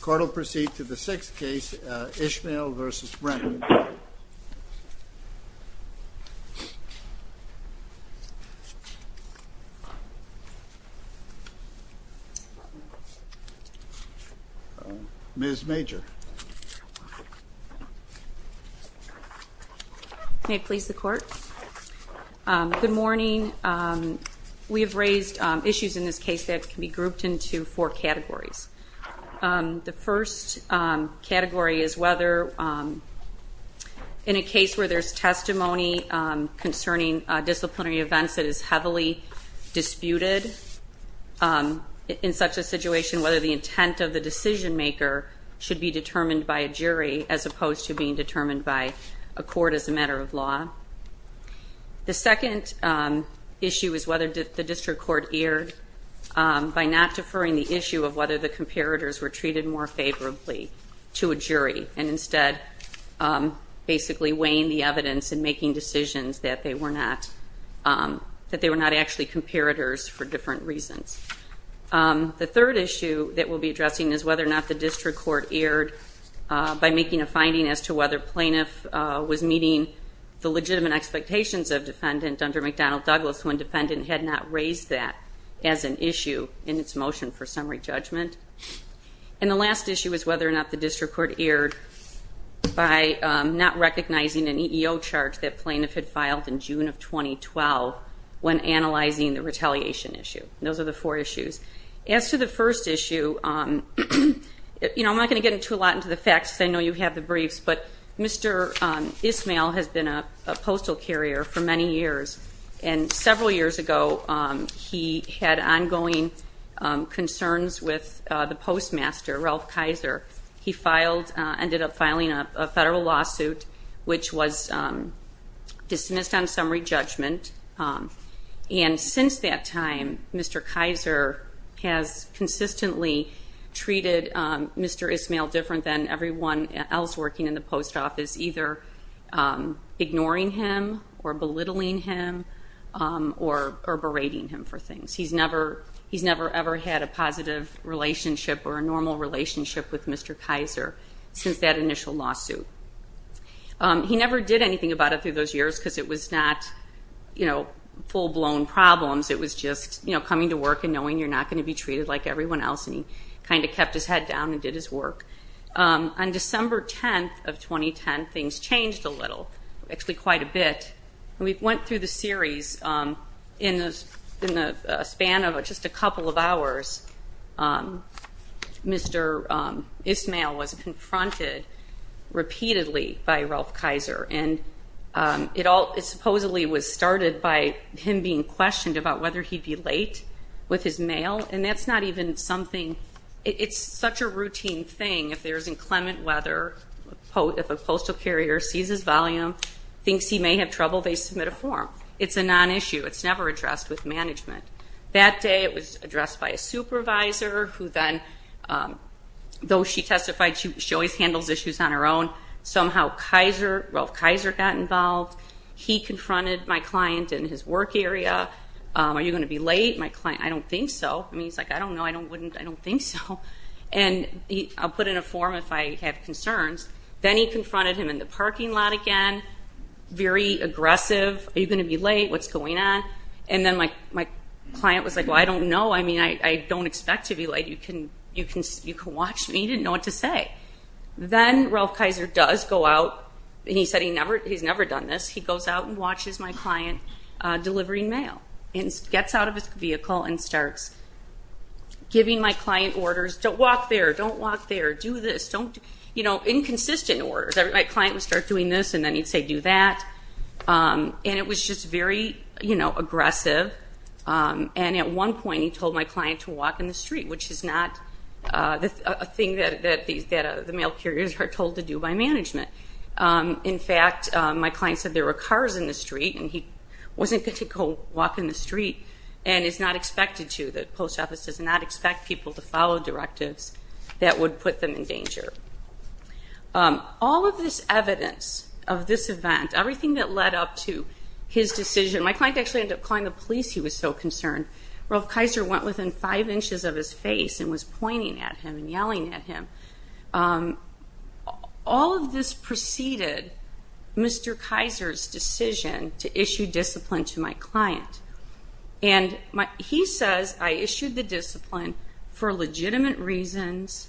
Court will proceed to the sixth case, Ismail v. Brennan. Ms. Major. May it please the Court? Good morning. We have raised issues in this case that can be grouped into four categories. The first category is whether, in a case where there's testimony concerning disciplinary events that is heavily disputed, in such a situation, whether the intent of the decision-maker should be determined by a jury as opposed to being determined by a court as a matter of law. The second issue is whether the district court erred by not deferring the issue of whether the comparators were treated as equal. The third issue that we'll be addressing is whether or not the district court erred by making a finding as to whether plaintiff was meeting the legitimate expectations of defendant under McDonnell-Douglas when defendant had not raised that as an issue in its motion for summary judgment. And the last issue is whether or not the district court erred by not recognizing an EEO charge that plaintiff had filed in June of 2012 when analyzing the retaliation issue. Those are the four issues. As to the first issue, I'm not going to get into a lot of the facts because I know you have the briefs, but Mr. Ismail has been a postal carrier for many years. And several years ago, he had ongoing concerns with the district court about whether or not the plaintiff should be dismissed from the post office. He was dismissed on summary judgment. And since that time, Mr. Kaiser has consistently treated Mr. Ismail different than everyone else working in the post office, either ignoring him or belittling him or berating him for things. He's never ever had a positive relationship or a normal relationship with Mr. Kaiser since that initial lawsuit. He never did anything about it through those years because it was not full-blown problems. It was just coming to work and knowing you're not going to be treated like everyone else. And he kind of kept his head down and did his work. On December 10th of 2010, things changed a little, actually quite a bit. And we went through the series in the span of just a couple of hours, Mr. Ismail was confronted repeatedly by Ralph Kaiser. And it supposedly was started by him being questioned about whether he'd be late with his mail. And that's not even something, it's such a routine thing. If there's inclement weather, if a postal carrier sees his volume, thinks he may have trouble, they submit a form. It's a non-issue. It's never addressed with management. That day it was addressed by a supervisor who then, though she testified she always handles issues on her own, somehow Ralph Kaiser got involved. He confronted my client in his work area. Are you going to be late? I don't think so. He's like, I don't know, I don't think so. And I'll put in a form if I have concerns. Then he confronted him in the parking lot again, very aggressive. Are you going to be late? What's going on? And then my client was like, I don't know, I don't expect to be late. You can watch me. He didn't know what to say. Then Ralph Kaiser does go out, and he said he's never done this, he goes out and watches my client delivering mail. And gets out of his vehicle and starts giving my client orders, don't walk there, don't walk there, do this, inconsistent orders. My client would start doing this, and then he'd say do that. And it was just very aggressive. And at one point he told my client to walk in the street, which is not a thing that the mail carriers are told to do by management. In fact, my client said there were cars in the street, and he wasn't going to go walk in the street, and it's not expected to. The post office does not expect people to follow directives that would put them in danger. All of this evidence of this event, everything that led up to his decision, my client actually ended up calling the police he was so concerned. Ralph Kaiser went within five inches of his face and was pointing at him and yelling at him. All of this preceded Mr. Kaiser's decision to issue discipline to my client. And he says I issued the discipline for legitimate reasons,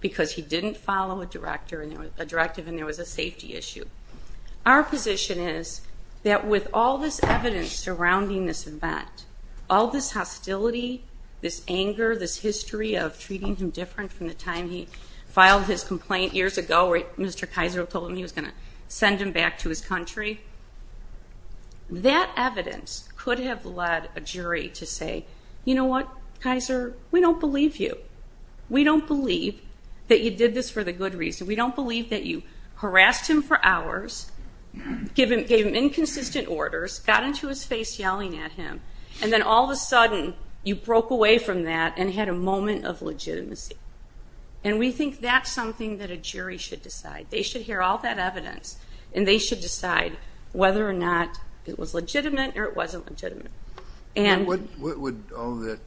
because he didn't want to go to jail. He didn't follow a directive, and there was a safety issue. Our position is that with all this evidence surrounding this event, all this hostility, this anger, this history of treating him different from the time he filed his complaint years ago where Mr. Kaiser told him he was going to send him back to his country, that evidence could have led a jury to say, you know what, Kaiser, we don't believe you. We don't believe that you did this for the good reason. We don't believe that you harassed him for hours, gave him inconsistent orders, got into his face yelling at him, and then all of a sudden you broke away from that and had a moment of legitimacy. And we think that's something that a jury should decide. They should hear all that evidence, and they should decide whether or not it was legitimate or it wasn't legitimate. And what would all of that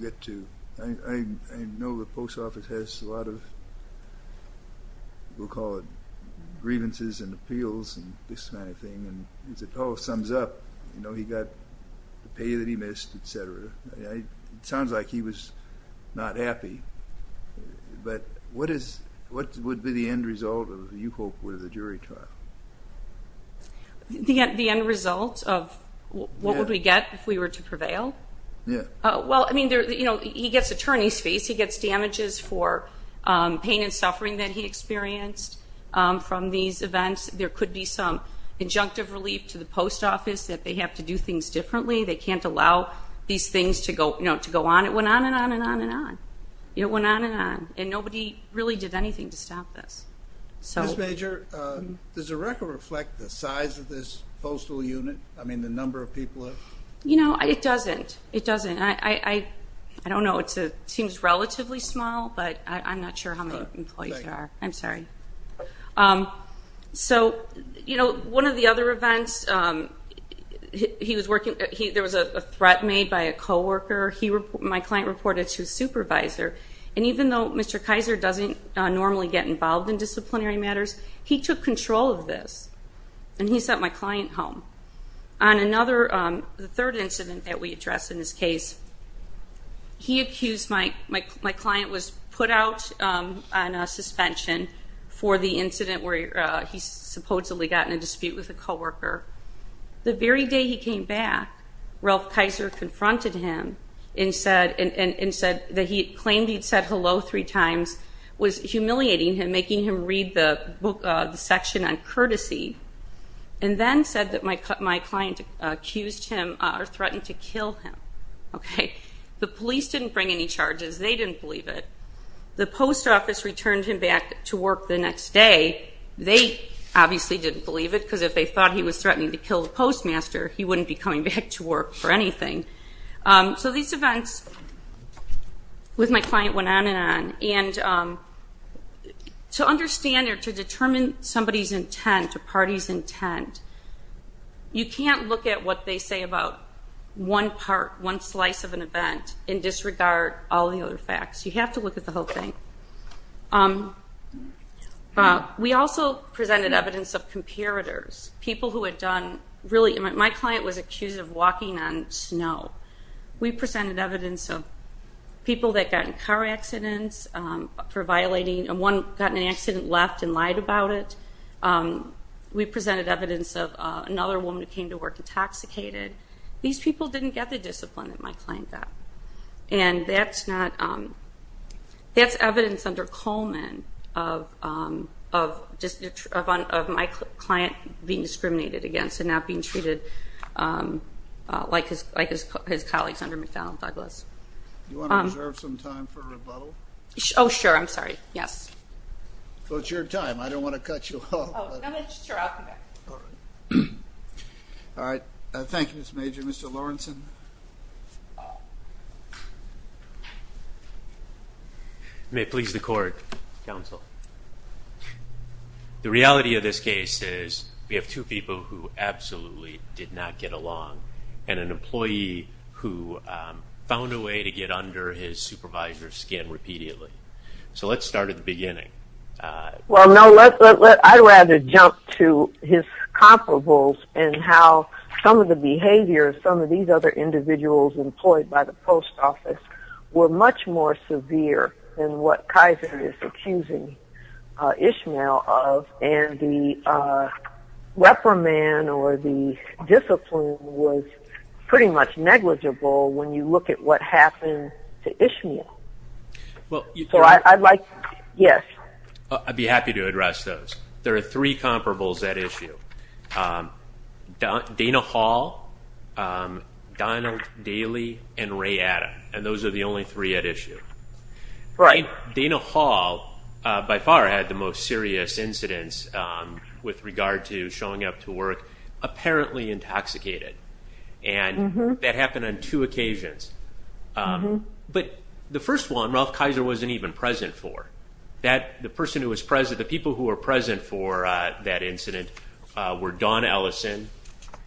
get to? I know the post office has a lot of, we'll call it grievances and appeals and this kind of thing, and it all sums up, you know, he got the pay that he missed, etc. It sounds like he was not happy, but what would be the end result of what you hope was a jury trial? The end result of what would we get if we were to prevail? He gets attorney's fees, he gets damages for pain and suffering that he experienced from these events. There could be some injunctive relief to the post office that they have to do things differently. They can't allow these things to go on. It went on and on and on and on. It went on and on. And nobody really did anything to stop this. Ms. Major, does the record reflect the size of this postal unit? I mean, the number of people? You know, it doesn't. It doesn't. I don't know. It seems relatively small, but I'm not sure how many employees there are. I'm sorry. So, you know, one of the other events, there was a threat made by a co-worker. My client reported to his supervisor, and even though Mr. Kaiser doesn't normally get involved in disciplinary matters, he took control of this, and he sent my client home. On another, the third incident that we addressed in this case, he accused my client was put out on a suspension for the incident where he supposedly got in a dispute with a co-worker. The very day he came back, Ralph Kaiser confronted him and said that he claimed he'd said hello three times, was humiliating him, making him read the section on courtesy, and then said that my client accused him or threatened to kill him. The police didn't bring any charges. They didn't believe it. The post office returned him back to work the next day. They obviously didn't believe it, because if they thought he was threatening to kill the postmaster, he wouldn't be coming back to work for anything. With my client, it went on and on, and to understand or to determine somebody's intent or party's intent, you can't look at what they say about one part, one slice of an event, and disregard all the other facts. You have to look at the whole thing. We also presented evidence of comparators, people who had done, really, my client was accused of walking on snow. We presented evidence of people that got in car accidents for violating, and one got in an accident, left, and lied about it. We presented evidence of another woman who came to work intoxicated. These people didn't get the discipline that my client got. That's evidence under Coleman of my client being discriminated against and not being treated like his colleagues under McFarland Douglas. The reality of this case is, we have two people who absolutely did not get along, and an employee who had been harassed found a way to get under his supervisor's skin repeatedly. Let's start at the beginning. I'd rather jump to his comparables and how some of the behavior of some of these other individuals employed by the post office were much more severe than what Kaiser is accusing Ishmael of, and the reprimand or the discipline was pretty much negligible when you look at his behavior. I'd be happy to address those. There are three comparables at issue. Dana Hall, Donald Daly, and Ray Adam. Those are the only three at issue. Dana Hall, by far, had the most serious incidents with regard to showing up to work apparently intoxicated. That happened on two occasions. The first one, Ralph Kaiser wasn't even present for. The people who were present for that incident were Dawn Ellison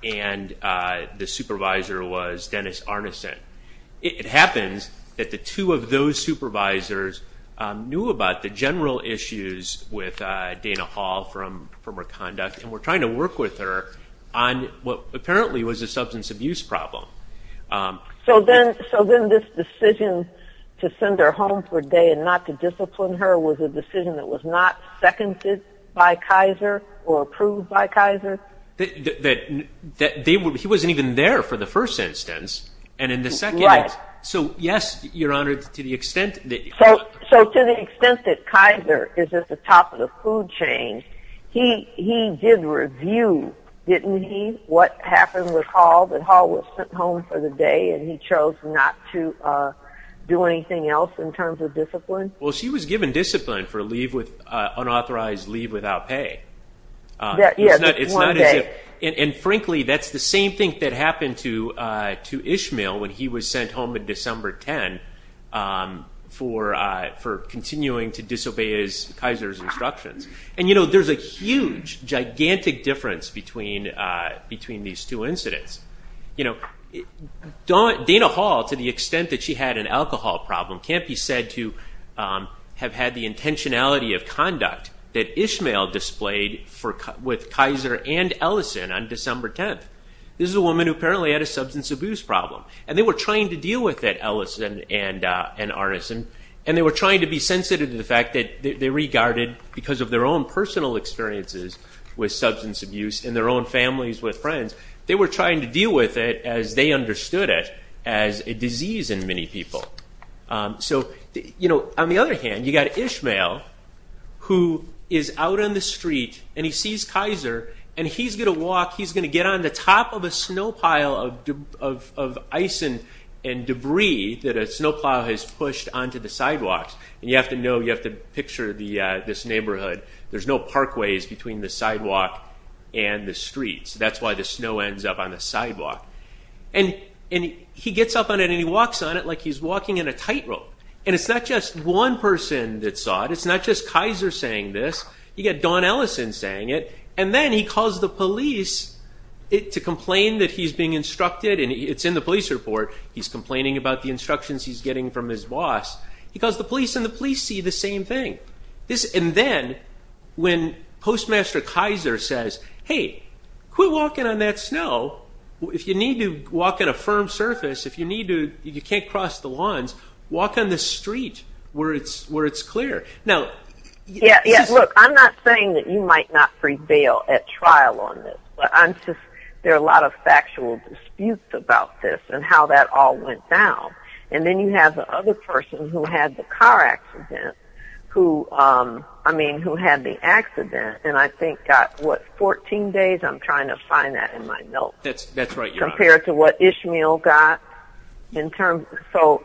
and the supervisor was Dennis Arneson. It happens that the two of those supervisors knew about the general issues with Dana Hall from her conduct and were trying to work with her on what apparently was a substance abuse problem. So then this decision to send her home for a day and not to discipline her was a decision that was not seconded by Kaiser or approved by Kaiser? He wasn't even there for the first instance. Right. So to the extent that Kaiser is at the top of the food chain, he did review, didn't he, what happened with Hall, that Hall was sent home for a day. He chose not to do anything else in terms of discipline? She was given discipline for unauthorized leave without pay. Frankly, that's the same thing that happened to Ishmael when he was sent home on December 10 for continuing to disobey Kaiser's instructions. There's a huge, gigantic difference between these two incidents. Dana Hall, to the extent that she had an alcohol problem, can't be said to have had the intentionality of conduct that Ishmael displayed with Kaiser and Ellison on December 10. This is a woman who apparently had a substance abuse problem. They were trying to deal with it, Ellison and Arneson. And they were trying to be sensitive to the fact that they regarded, because of their own personal experiences with substance abuse and their own families with friends, they were trying to deal with it as they understood it as a disease in many people. On the other hand, you've got Ishmael, who is out on the street and he sees Kaiser, and he's going to walk, he's going to get on the top of a snow pile of ice and debris that a snow plow has pushed onto the ground. And he gets up on it and he walks on it like he's walking in a tightrope. And it's not just one person that saw it, it's not just Kaiser saying this, you've got Don Ellison saying it, and then he calls the police to complain that he's being instructed, and it's in the police report, he's complaining about the instructions he's getting from his boss. Because the police and the police see the same thing. And then when Postmaster Kaiser says, hey, quit walking on that snow, if you need to walk on a firm surface, if you can't cross the lines, walk on the street where it's clear. Now, look, I'm not saying that you might not prevail at trial on this, but I'm just, there are a lot of factual disputes about this and how that all went down. And then you have the other person who had the car accident, who, I mean, who had the accident, and I think got, what, 14 days? I'm trying to find that in my notes. That's right, Your Honor. Compared to what Ishmael got. To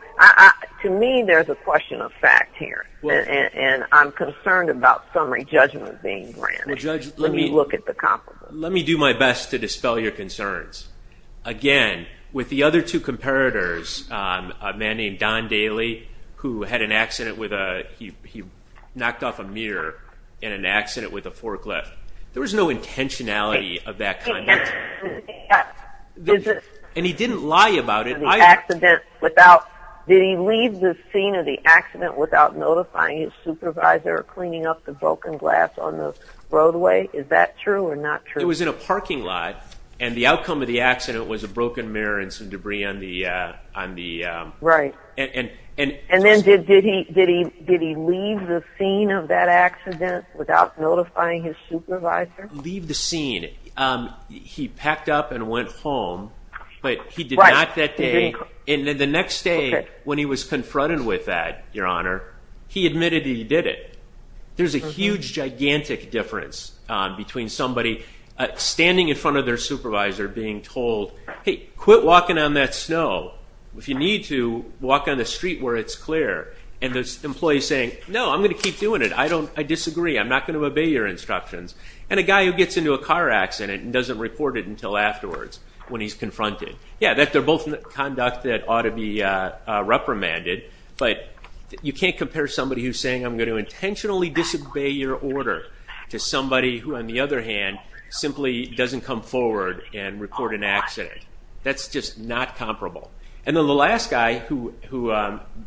me, there's a question of fact here, and I'm concerned about summary judgment being ran. Well, Judge, let me do my best to dispel your concerns. Again, with the other two comparators, a man named Don Daly, who had an accident with a, he knocked off a mirror in an accident with a forklift. There was no intentionality of that kind. And he didn't lie about it either. Did he leave the scene of the accident without notifying his supervisor or cleaning up the broken glass on the roadway? Is that true or not true? It was in a parking lot, and the outcome of the accident was a broken mirror and some debris on the... Right. And then did he leave the scene of that accident without notifying his supervisor? Leave the scene. He packed up and went home, but he did not that day. And then the next day, when he was confronted with that, Your Honor, he admitted that he did it. There's a huge, gigantic difference between somebody standing in front of their supervisor being told, hey, quit walking on that snow. If you need to, walk on the street where it's clear. And the employee saying, no, I'm going to keep doing it. I disagree. I'm not going to obey your instructions. And a guy who gets into a car accident and doesn't report it until afterwards when he's confronted. Yeah, they're both conduct that ought to be reprimanded. But you can't compare somebody who's saying, I'm going to intentionally disobey your order to somebody who, on the other hand, simply doesn't come forward and report an accident. That's just not comparable. And then the last guy who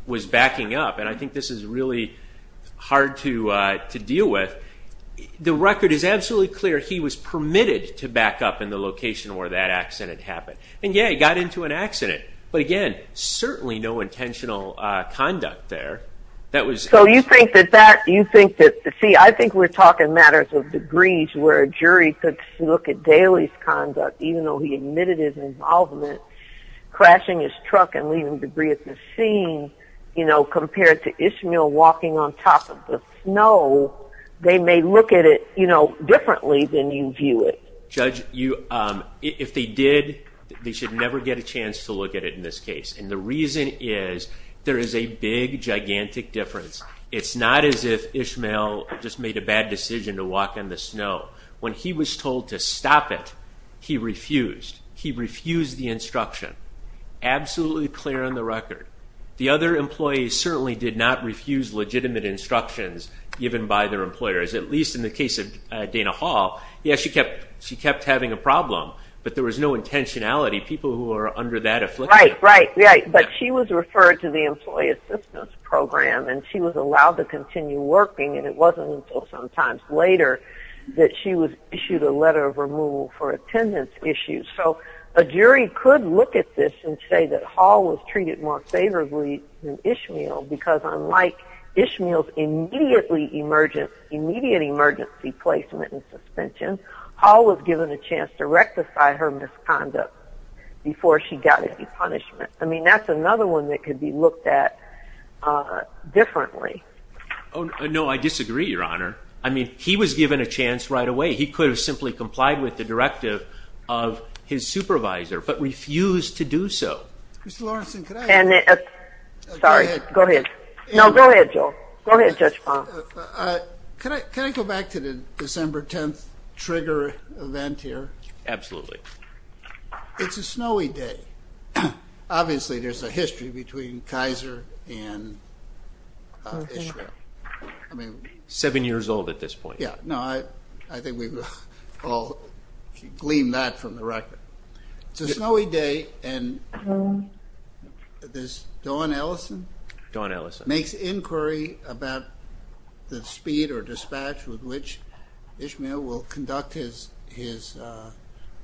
was backing up, and I think this is really hard to deal with, the record is absolutely clear. He was permitted to back up in the location where that accident happened. And yeah, he got into an accident. But again, certainly no intentional conduct there. So you think that that, you think that, see, I think we're talking matters of degrees where a jury could look at Daly's conduct, even though he admitted his involvement, crashing his truck and leaving debris at the scene, compared to Ishmael walking on top of the snow, they may look at it differently than you view it. Judge, if they did, they should never get a chance to look at it in this case. And the reason is, there is a big, gigantic difference. It's not as if Ishmael just made a bad decision to walk on the snow. When he was told to stop it, he refused. He refused the instruction. Absolutely clear on the record. The other employees certainly did not refuse legitimate instructions given by their employers, at least in the case of Dana Hall. Yeah, she kept having a problem, but there was no intentionality. Right, right, right. But she was referred to the Employee Assistance Program, and she was allowed to continue working, and it wasn't until sometimes later that she was issued a letter of removal for attendance issues. So a jury could look at this and say that Hall was treated more favorably than Ishmael, because unlike Ishmael's immediate emergency placement and suspension, Hall was given a chance to rectify her misconduct before she got any punishment. I mean, that's another one that could be looked at differently. Oh, no, I disagree, Your Honor. I mean, he was given a chance right away. He could have simply complied with the directive of his supervisor, but refused to do so. Mr. Lawrenson, could I... Absolutely. It's a snowy day. Obviously, there's a history between Kaiser and Ishmael. Seven years old at this point. Yeah, no, I think we've all gleaned that from the record. It's a snowy day, and this Dawn Ellison... The speed or dispatch with which Ishmael will conduct his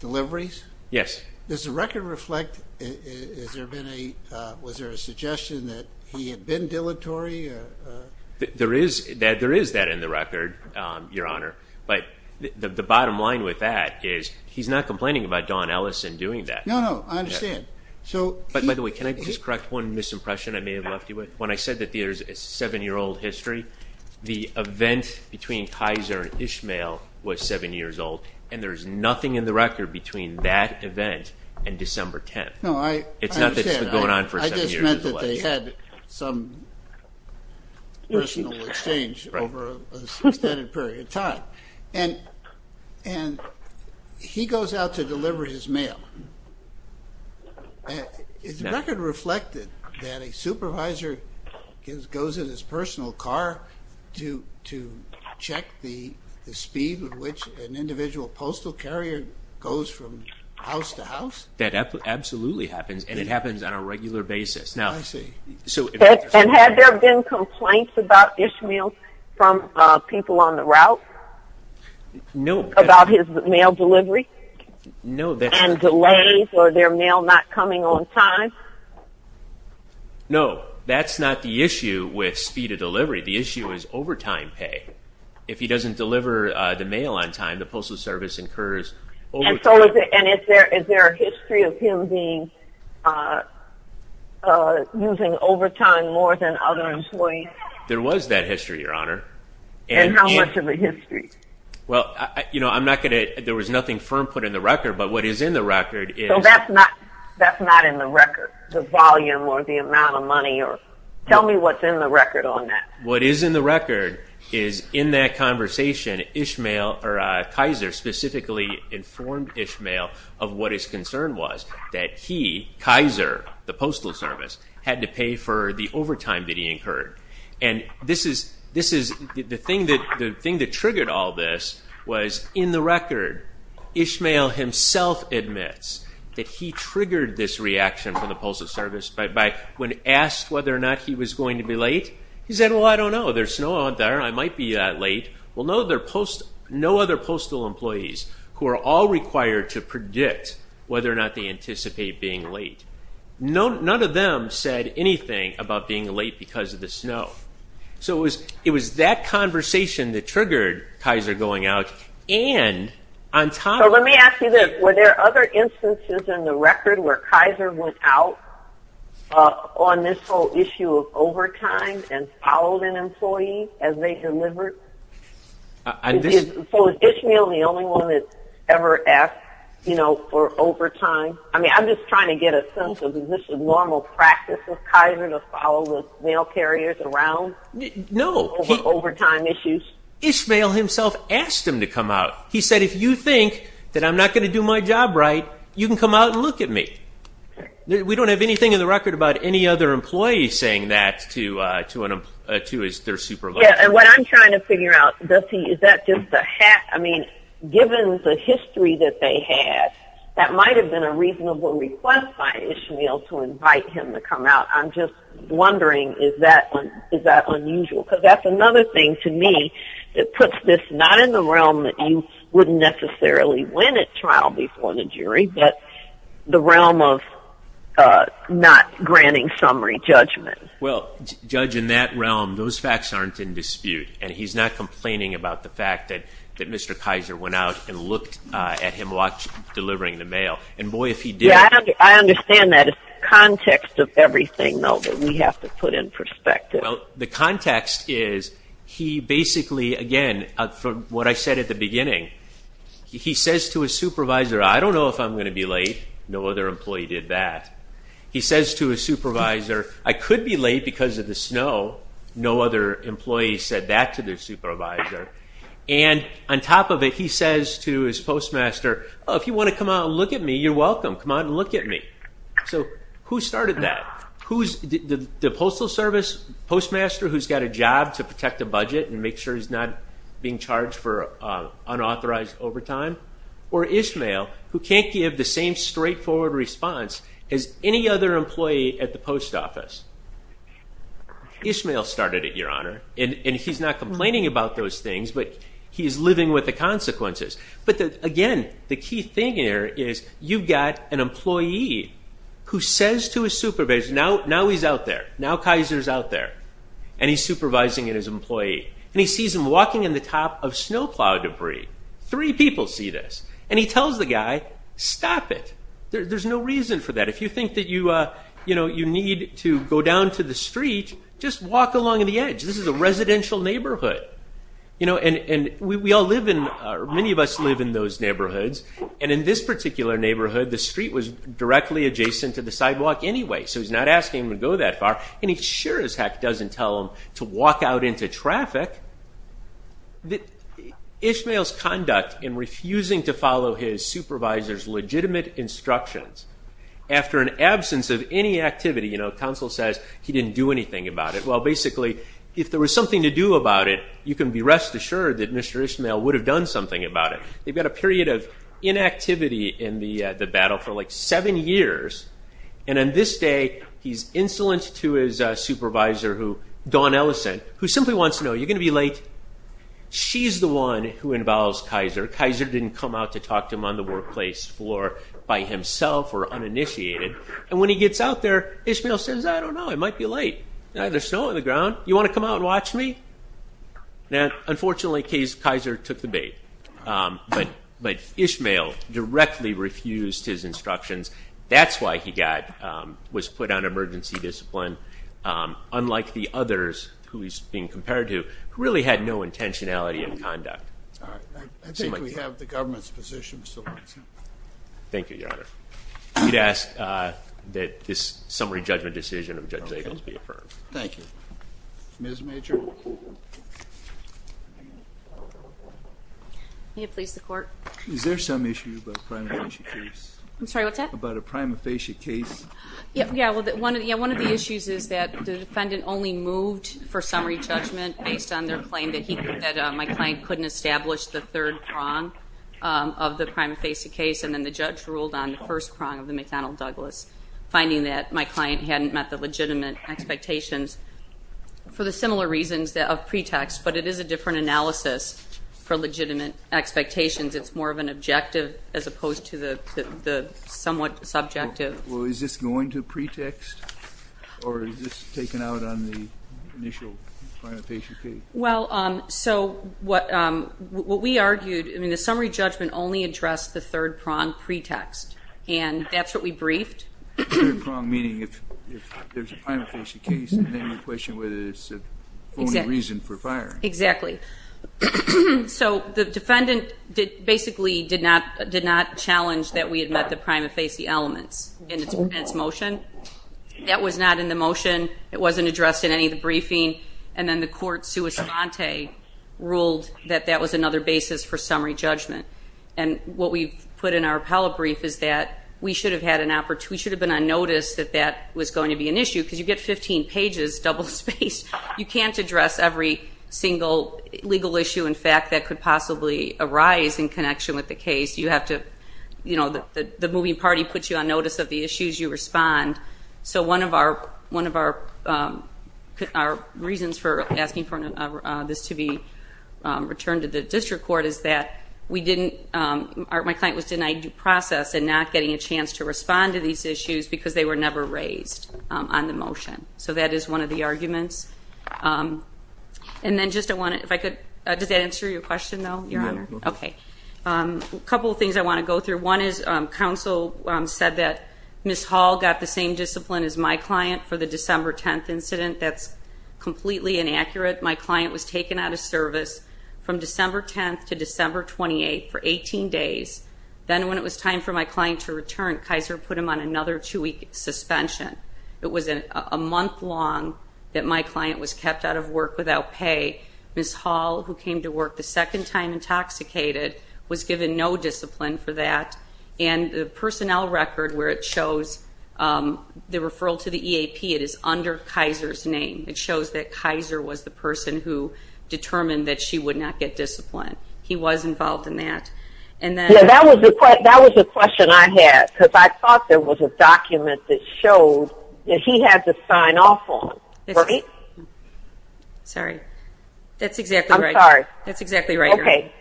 deliveries? Yes. Does the record reflect... Was there a suggestion that he had been dilatory? There is that in the record, Your Honor, but the bottom line with that is he's not complaining about Dawn Ellison doing that. No, no, I understand. By the way, can I just correct one misimpression I may have left you with? When I said that there's a seven-year-old history, the event between Kaiser and Ishmael was seven years old, and there's nothing in the record between that event and December 10th. No, I understand. It's not that it's been going on for seven years. It just meant that they had some personal exchange over an extended period of time, and he goes out to deliver his mail. Is the record reflected that a supervisor goes in his personal car to check the speed with which an individual postal carrier goes from house to house? That absolutely happens, and it happens on a regular basis. Had there been complaints about Ishmael from people on the route about his mail delivery and delays or their mail not coming on time? No, that's not the issue with speed of delivery. The issue is overtime pay. If he doesn't deliver the mail on time, the Postal Service incurs overtime pay. Is there a history of him using overtime more than other employees? There was that history, Your Honor. How much of a history? There was nothing firm put in the record, but what is in the record is... That's not in the record, the volume or the amount of money. Tell me what's in the record on that. What is in the record is in that conversation, Kaiser specifically informed Ishmael of what his concern was, that he, Kaiser, the Postal Service, had to pay for the overtime that he incurred. The thing that triggered all this was in the record. Ishmael himself admits that he triggered this reaction from the Postal Service when asked whether or not he was going to be late. He said, well, I don't know. There's snow out there. I might be late. No other postal employees who are all required to predict whether or not they anticipate being late. None of them said anything about being late because of the snow. It was that conversation that triggered Kaiser going out. So let me ask you this. Were there other instances in the record where Kaiser went out on this whole issue of overtime and followed an employee as they delivered? Was Ishmael the only one that ever asked for overtime? I'm just trying to get a sense of the normal practice of Kaiser to follow the mail carriers around Ishmael himself asked him to come out. He said, if you think that I'm not going to do my job right, you can come out and look at me. We don't have anything in the record about any other employees saying that to their supervisor. Given the history that they had, that might have been a reasonable request by Ishmael to invite him to come out, I'm just wondering, is that unusual? Because that's another thing to me that puts this not in the realm that you wouldn't necessarily win at trial before the jury, but the realm of not granting summary judgment. Judge, in that realm, those facts aren't in dispute. And he's not complaining about the fact that Mr. Kaiser went out and looked at him delivering the mail. I understand that. It's the context of everything, though, that we have to put in perspective. The context is, he basically, again, from what I said at the beginning, he says to his supervisor, I don't know if I'm going to be late. No other employee did that. He says to his supervisor, I could be late because of the snow. No other employee said that to their supervisor. And on top of it, he says to his postmaster, if you want to come out and look at me, you're welcome. Come out and look at me. So who started that? The Postal Service postmaster who's got a job to protect the budget and make sure he's not being charged for unauthorized overtime? Or Ishmael, who can't give the same straightforward response as any other employee at the post office? Ishmael started it, Your Honor. And he's not complaining about those things, but he's living with the consequences. But again, the key thing here is, you've got an employee who says to his supervisor, now he's out there. Now Kaiser's out there. And he's supervising his employee. And he sees him walking in the top of snowplow debris. Three people see this. And he tells the guy, stop it. There's no reason for that. If you think that you need to go down to the street, just walk along the edge. This is a residential neighborhood. And many of us live in those neighborhoods. And in this particular neighborhood, the street was directly adjacent to the sidewalk anyway. So he's not asking him to go that far. And he sure as heck doesn't tell him to walk out into traffic. Ishmael's conduct in refusing to follow his supervisor's legitimate instructions after an absence of any activity. Counsel says he didn't do anything about it. Well, basically, if there was something to do about it, you can be rest assured that Mr. Ishmael would have done something about it. They've got a period of inactivity in the battle for like seven years. And on this day, he's insolent to his supervisor, Dawn Ellison, who simply wants to know, you're going to be late. She's the one who involves Kaiser. Kaiser didn't come out to talk to him on the workplace floor by himself or uninitiated. And when he gets out there, Ishmael says, I don't know. It might be late. There's snow on the ground. You want to come out and watch me? Now, unfortunately, Kaiser took the bait. But Ishmael directly refused his instructions. That's why he was put on emergency discipline, unlike the others who he's being compared to, who really had no intentionality in conduct. I think we have the government's position. Thank you, Your Honor. We'd ask that this summary judgment decision of Judge Zagos be affirmed. Thank you. Ms. Major? May it please the Court? Is there some issue about the prima facie case? I'm sorry, what's that? About a prima facie case? Yeah, well, one of the issues is that the defendant only moved for summary judgment based on their claim that my client couldn't establish the third prong of the prima facie case. And then the judge ruled on the first prong of the McDonnell-Douglas, finding that my client hadn't met the legitimate expectations. For the similar reasons of pretext, but it is a different analysis for legitimate expectations. It's more of an objective as opposed to the somewhat subjective. Well, is this going to pretext? Or is this taken out on the initial prima facie case? Well, so what we argued, I mean, the summary judgment only addressed the third prong pretext. And that's what we briefed. The third prong meaning if there's a prima facie case and then the question whether it's a phony reason for firing. Exactly. So the defendant basically did not challenge that we had met the prima facie elements in its motion. That was not in the motion. It wasn't addressed in any of the briefing. And then the court, sua sponte, ruled that that was another basis for summary judgment. And what we put in our appellate brief is that we should have been on notice that that was going to be an issue because you get 15 pages, double-spaced. You can't address every single legal issue and fact that could possibly arise in connection with the case. You have to, you know, the moving party puts you on notice of the issues, you respond. So one of our reasons for asking for this to be returned to the district court is that we didn't, my client was denied due process and not getting a chance to respond to these issues because they were never raised on the motion. So that is one of the arguments. And then just I wanted, if I could, does that answer your question though, Your Honor? Okay. A couple of things I want to go through. One is counsel said that Ms. Hall got the same discipline as my client for the December 10th incident. That's completely inaccurate. My client was taken out of service from December 10th to December 28th for 18 days. Then when it was time for my client to return, Kaiser put him on another two-week suspension. It was a month long that my client was kept out of work without pay. Ms. Hall, who came to work the second time intoxicated, was given no discipline for that. And the personnel record where it shows the referral to the EAP, it is under Kaiser's name. It shows that Kaiser was the person who determined that she would not get discipline. He was involved in that. Yeah, that was the question I had because I thought there was a document that showed that he had to sign off on, right? Sorry. That's exactly right. I'm sorry. That's exactly right, Your Honor. Okay.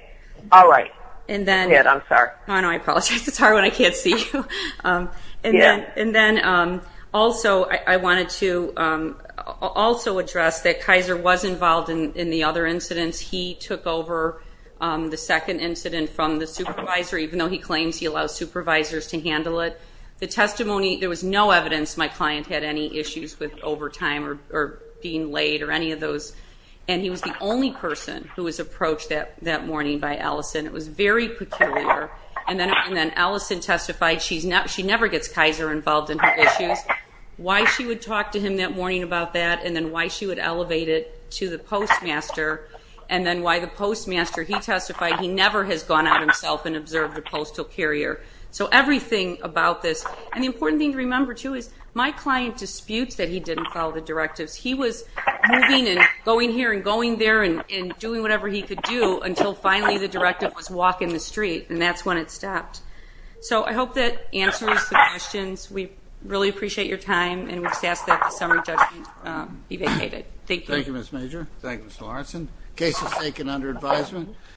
All right. I'm sorry. No, I apologize. It's hard when I can't see you. Also, I wanted to also address that Kaiser was involved in the other incidents. He took over the second incident from the supervisor even though he claims he allows supervisors to handle it. The testimony, there was no evidence my client had any issues with overtime or being late or any of those. And he was the only person who was approached that morning by Allison. It was very peculiar. And then Allison testified she never gets Kaiser involved in her issues. Why she would talk to him that morning about that and then why she would elevate it to herself and observe the postal carrier. So everything about this. And the important thing to remember too is my client disputes that he didn't follow the directives. He was moving and going here and going there and doing whatever he could do until finally the directive was walk in the street. And that's when it stopped. So I hope that answers the questions. We really appreciate your time. And we just ask that the summary judgment be vacated. Thank you. Thank you, Ms. Major. Thank you, Ms. Lawrenson. Case is taken under advisement.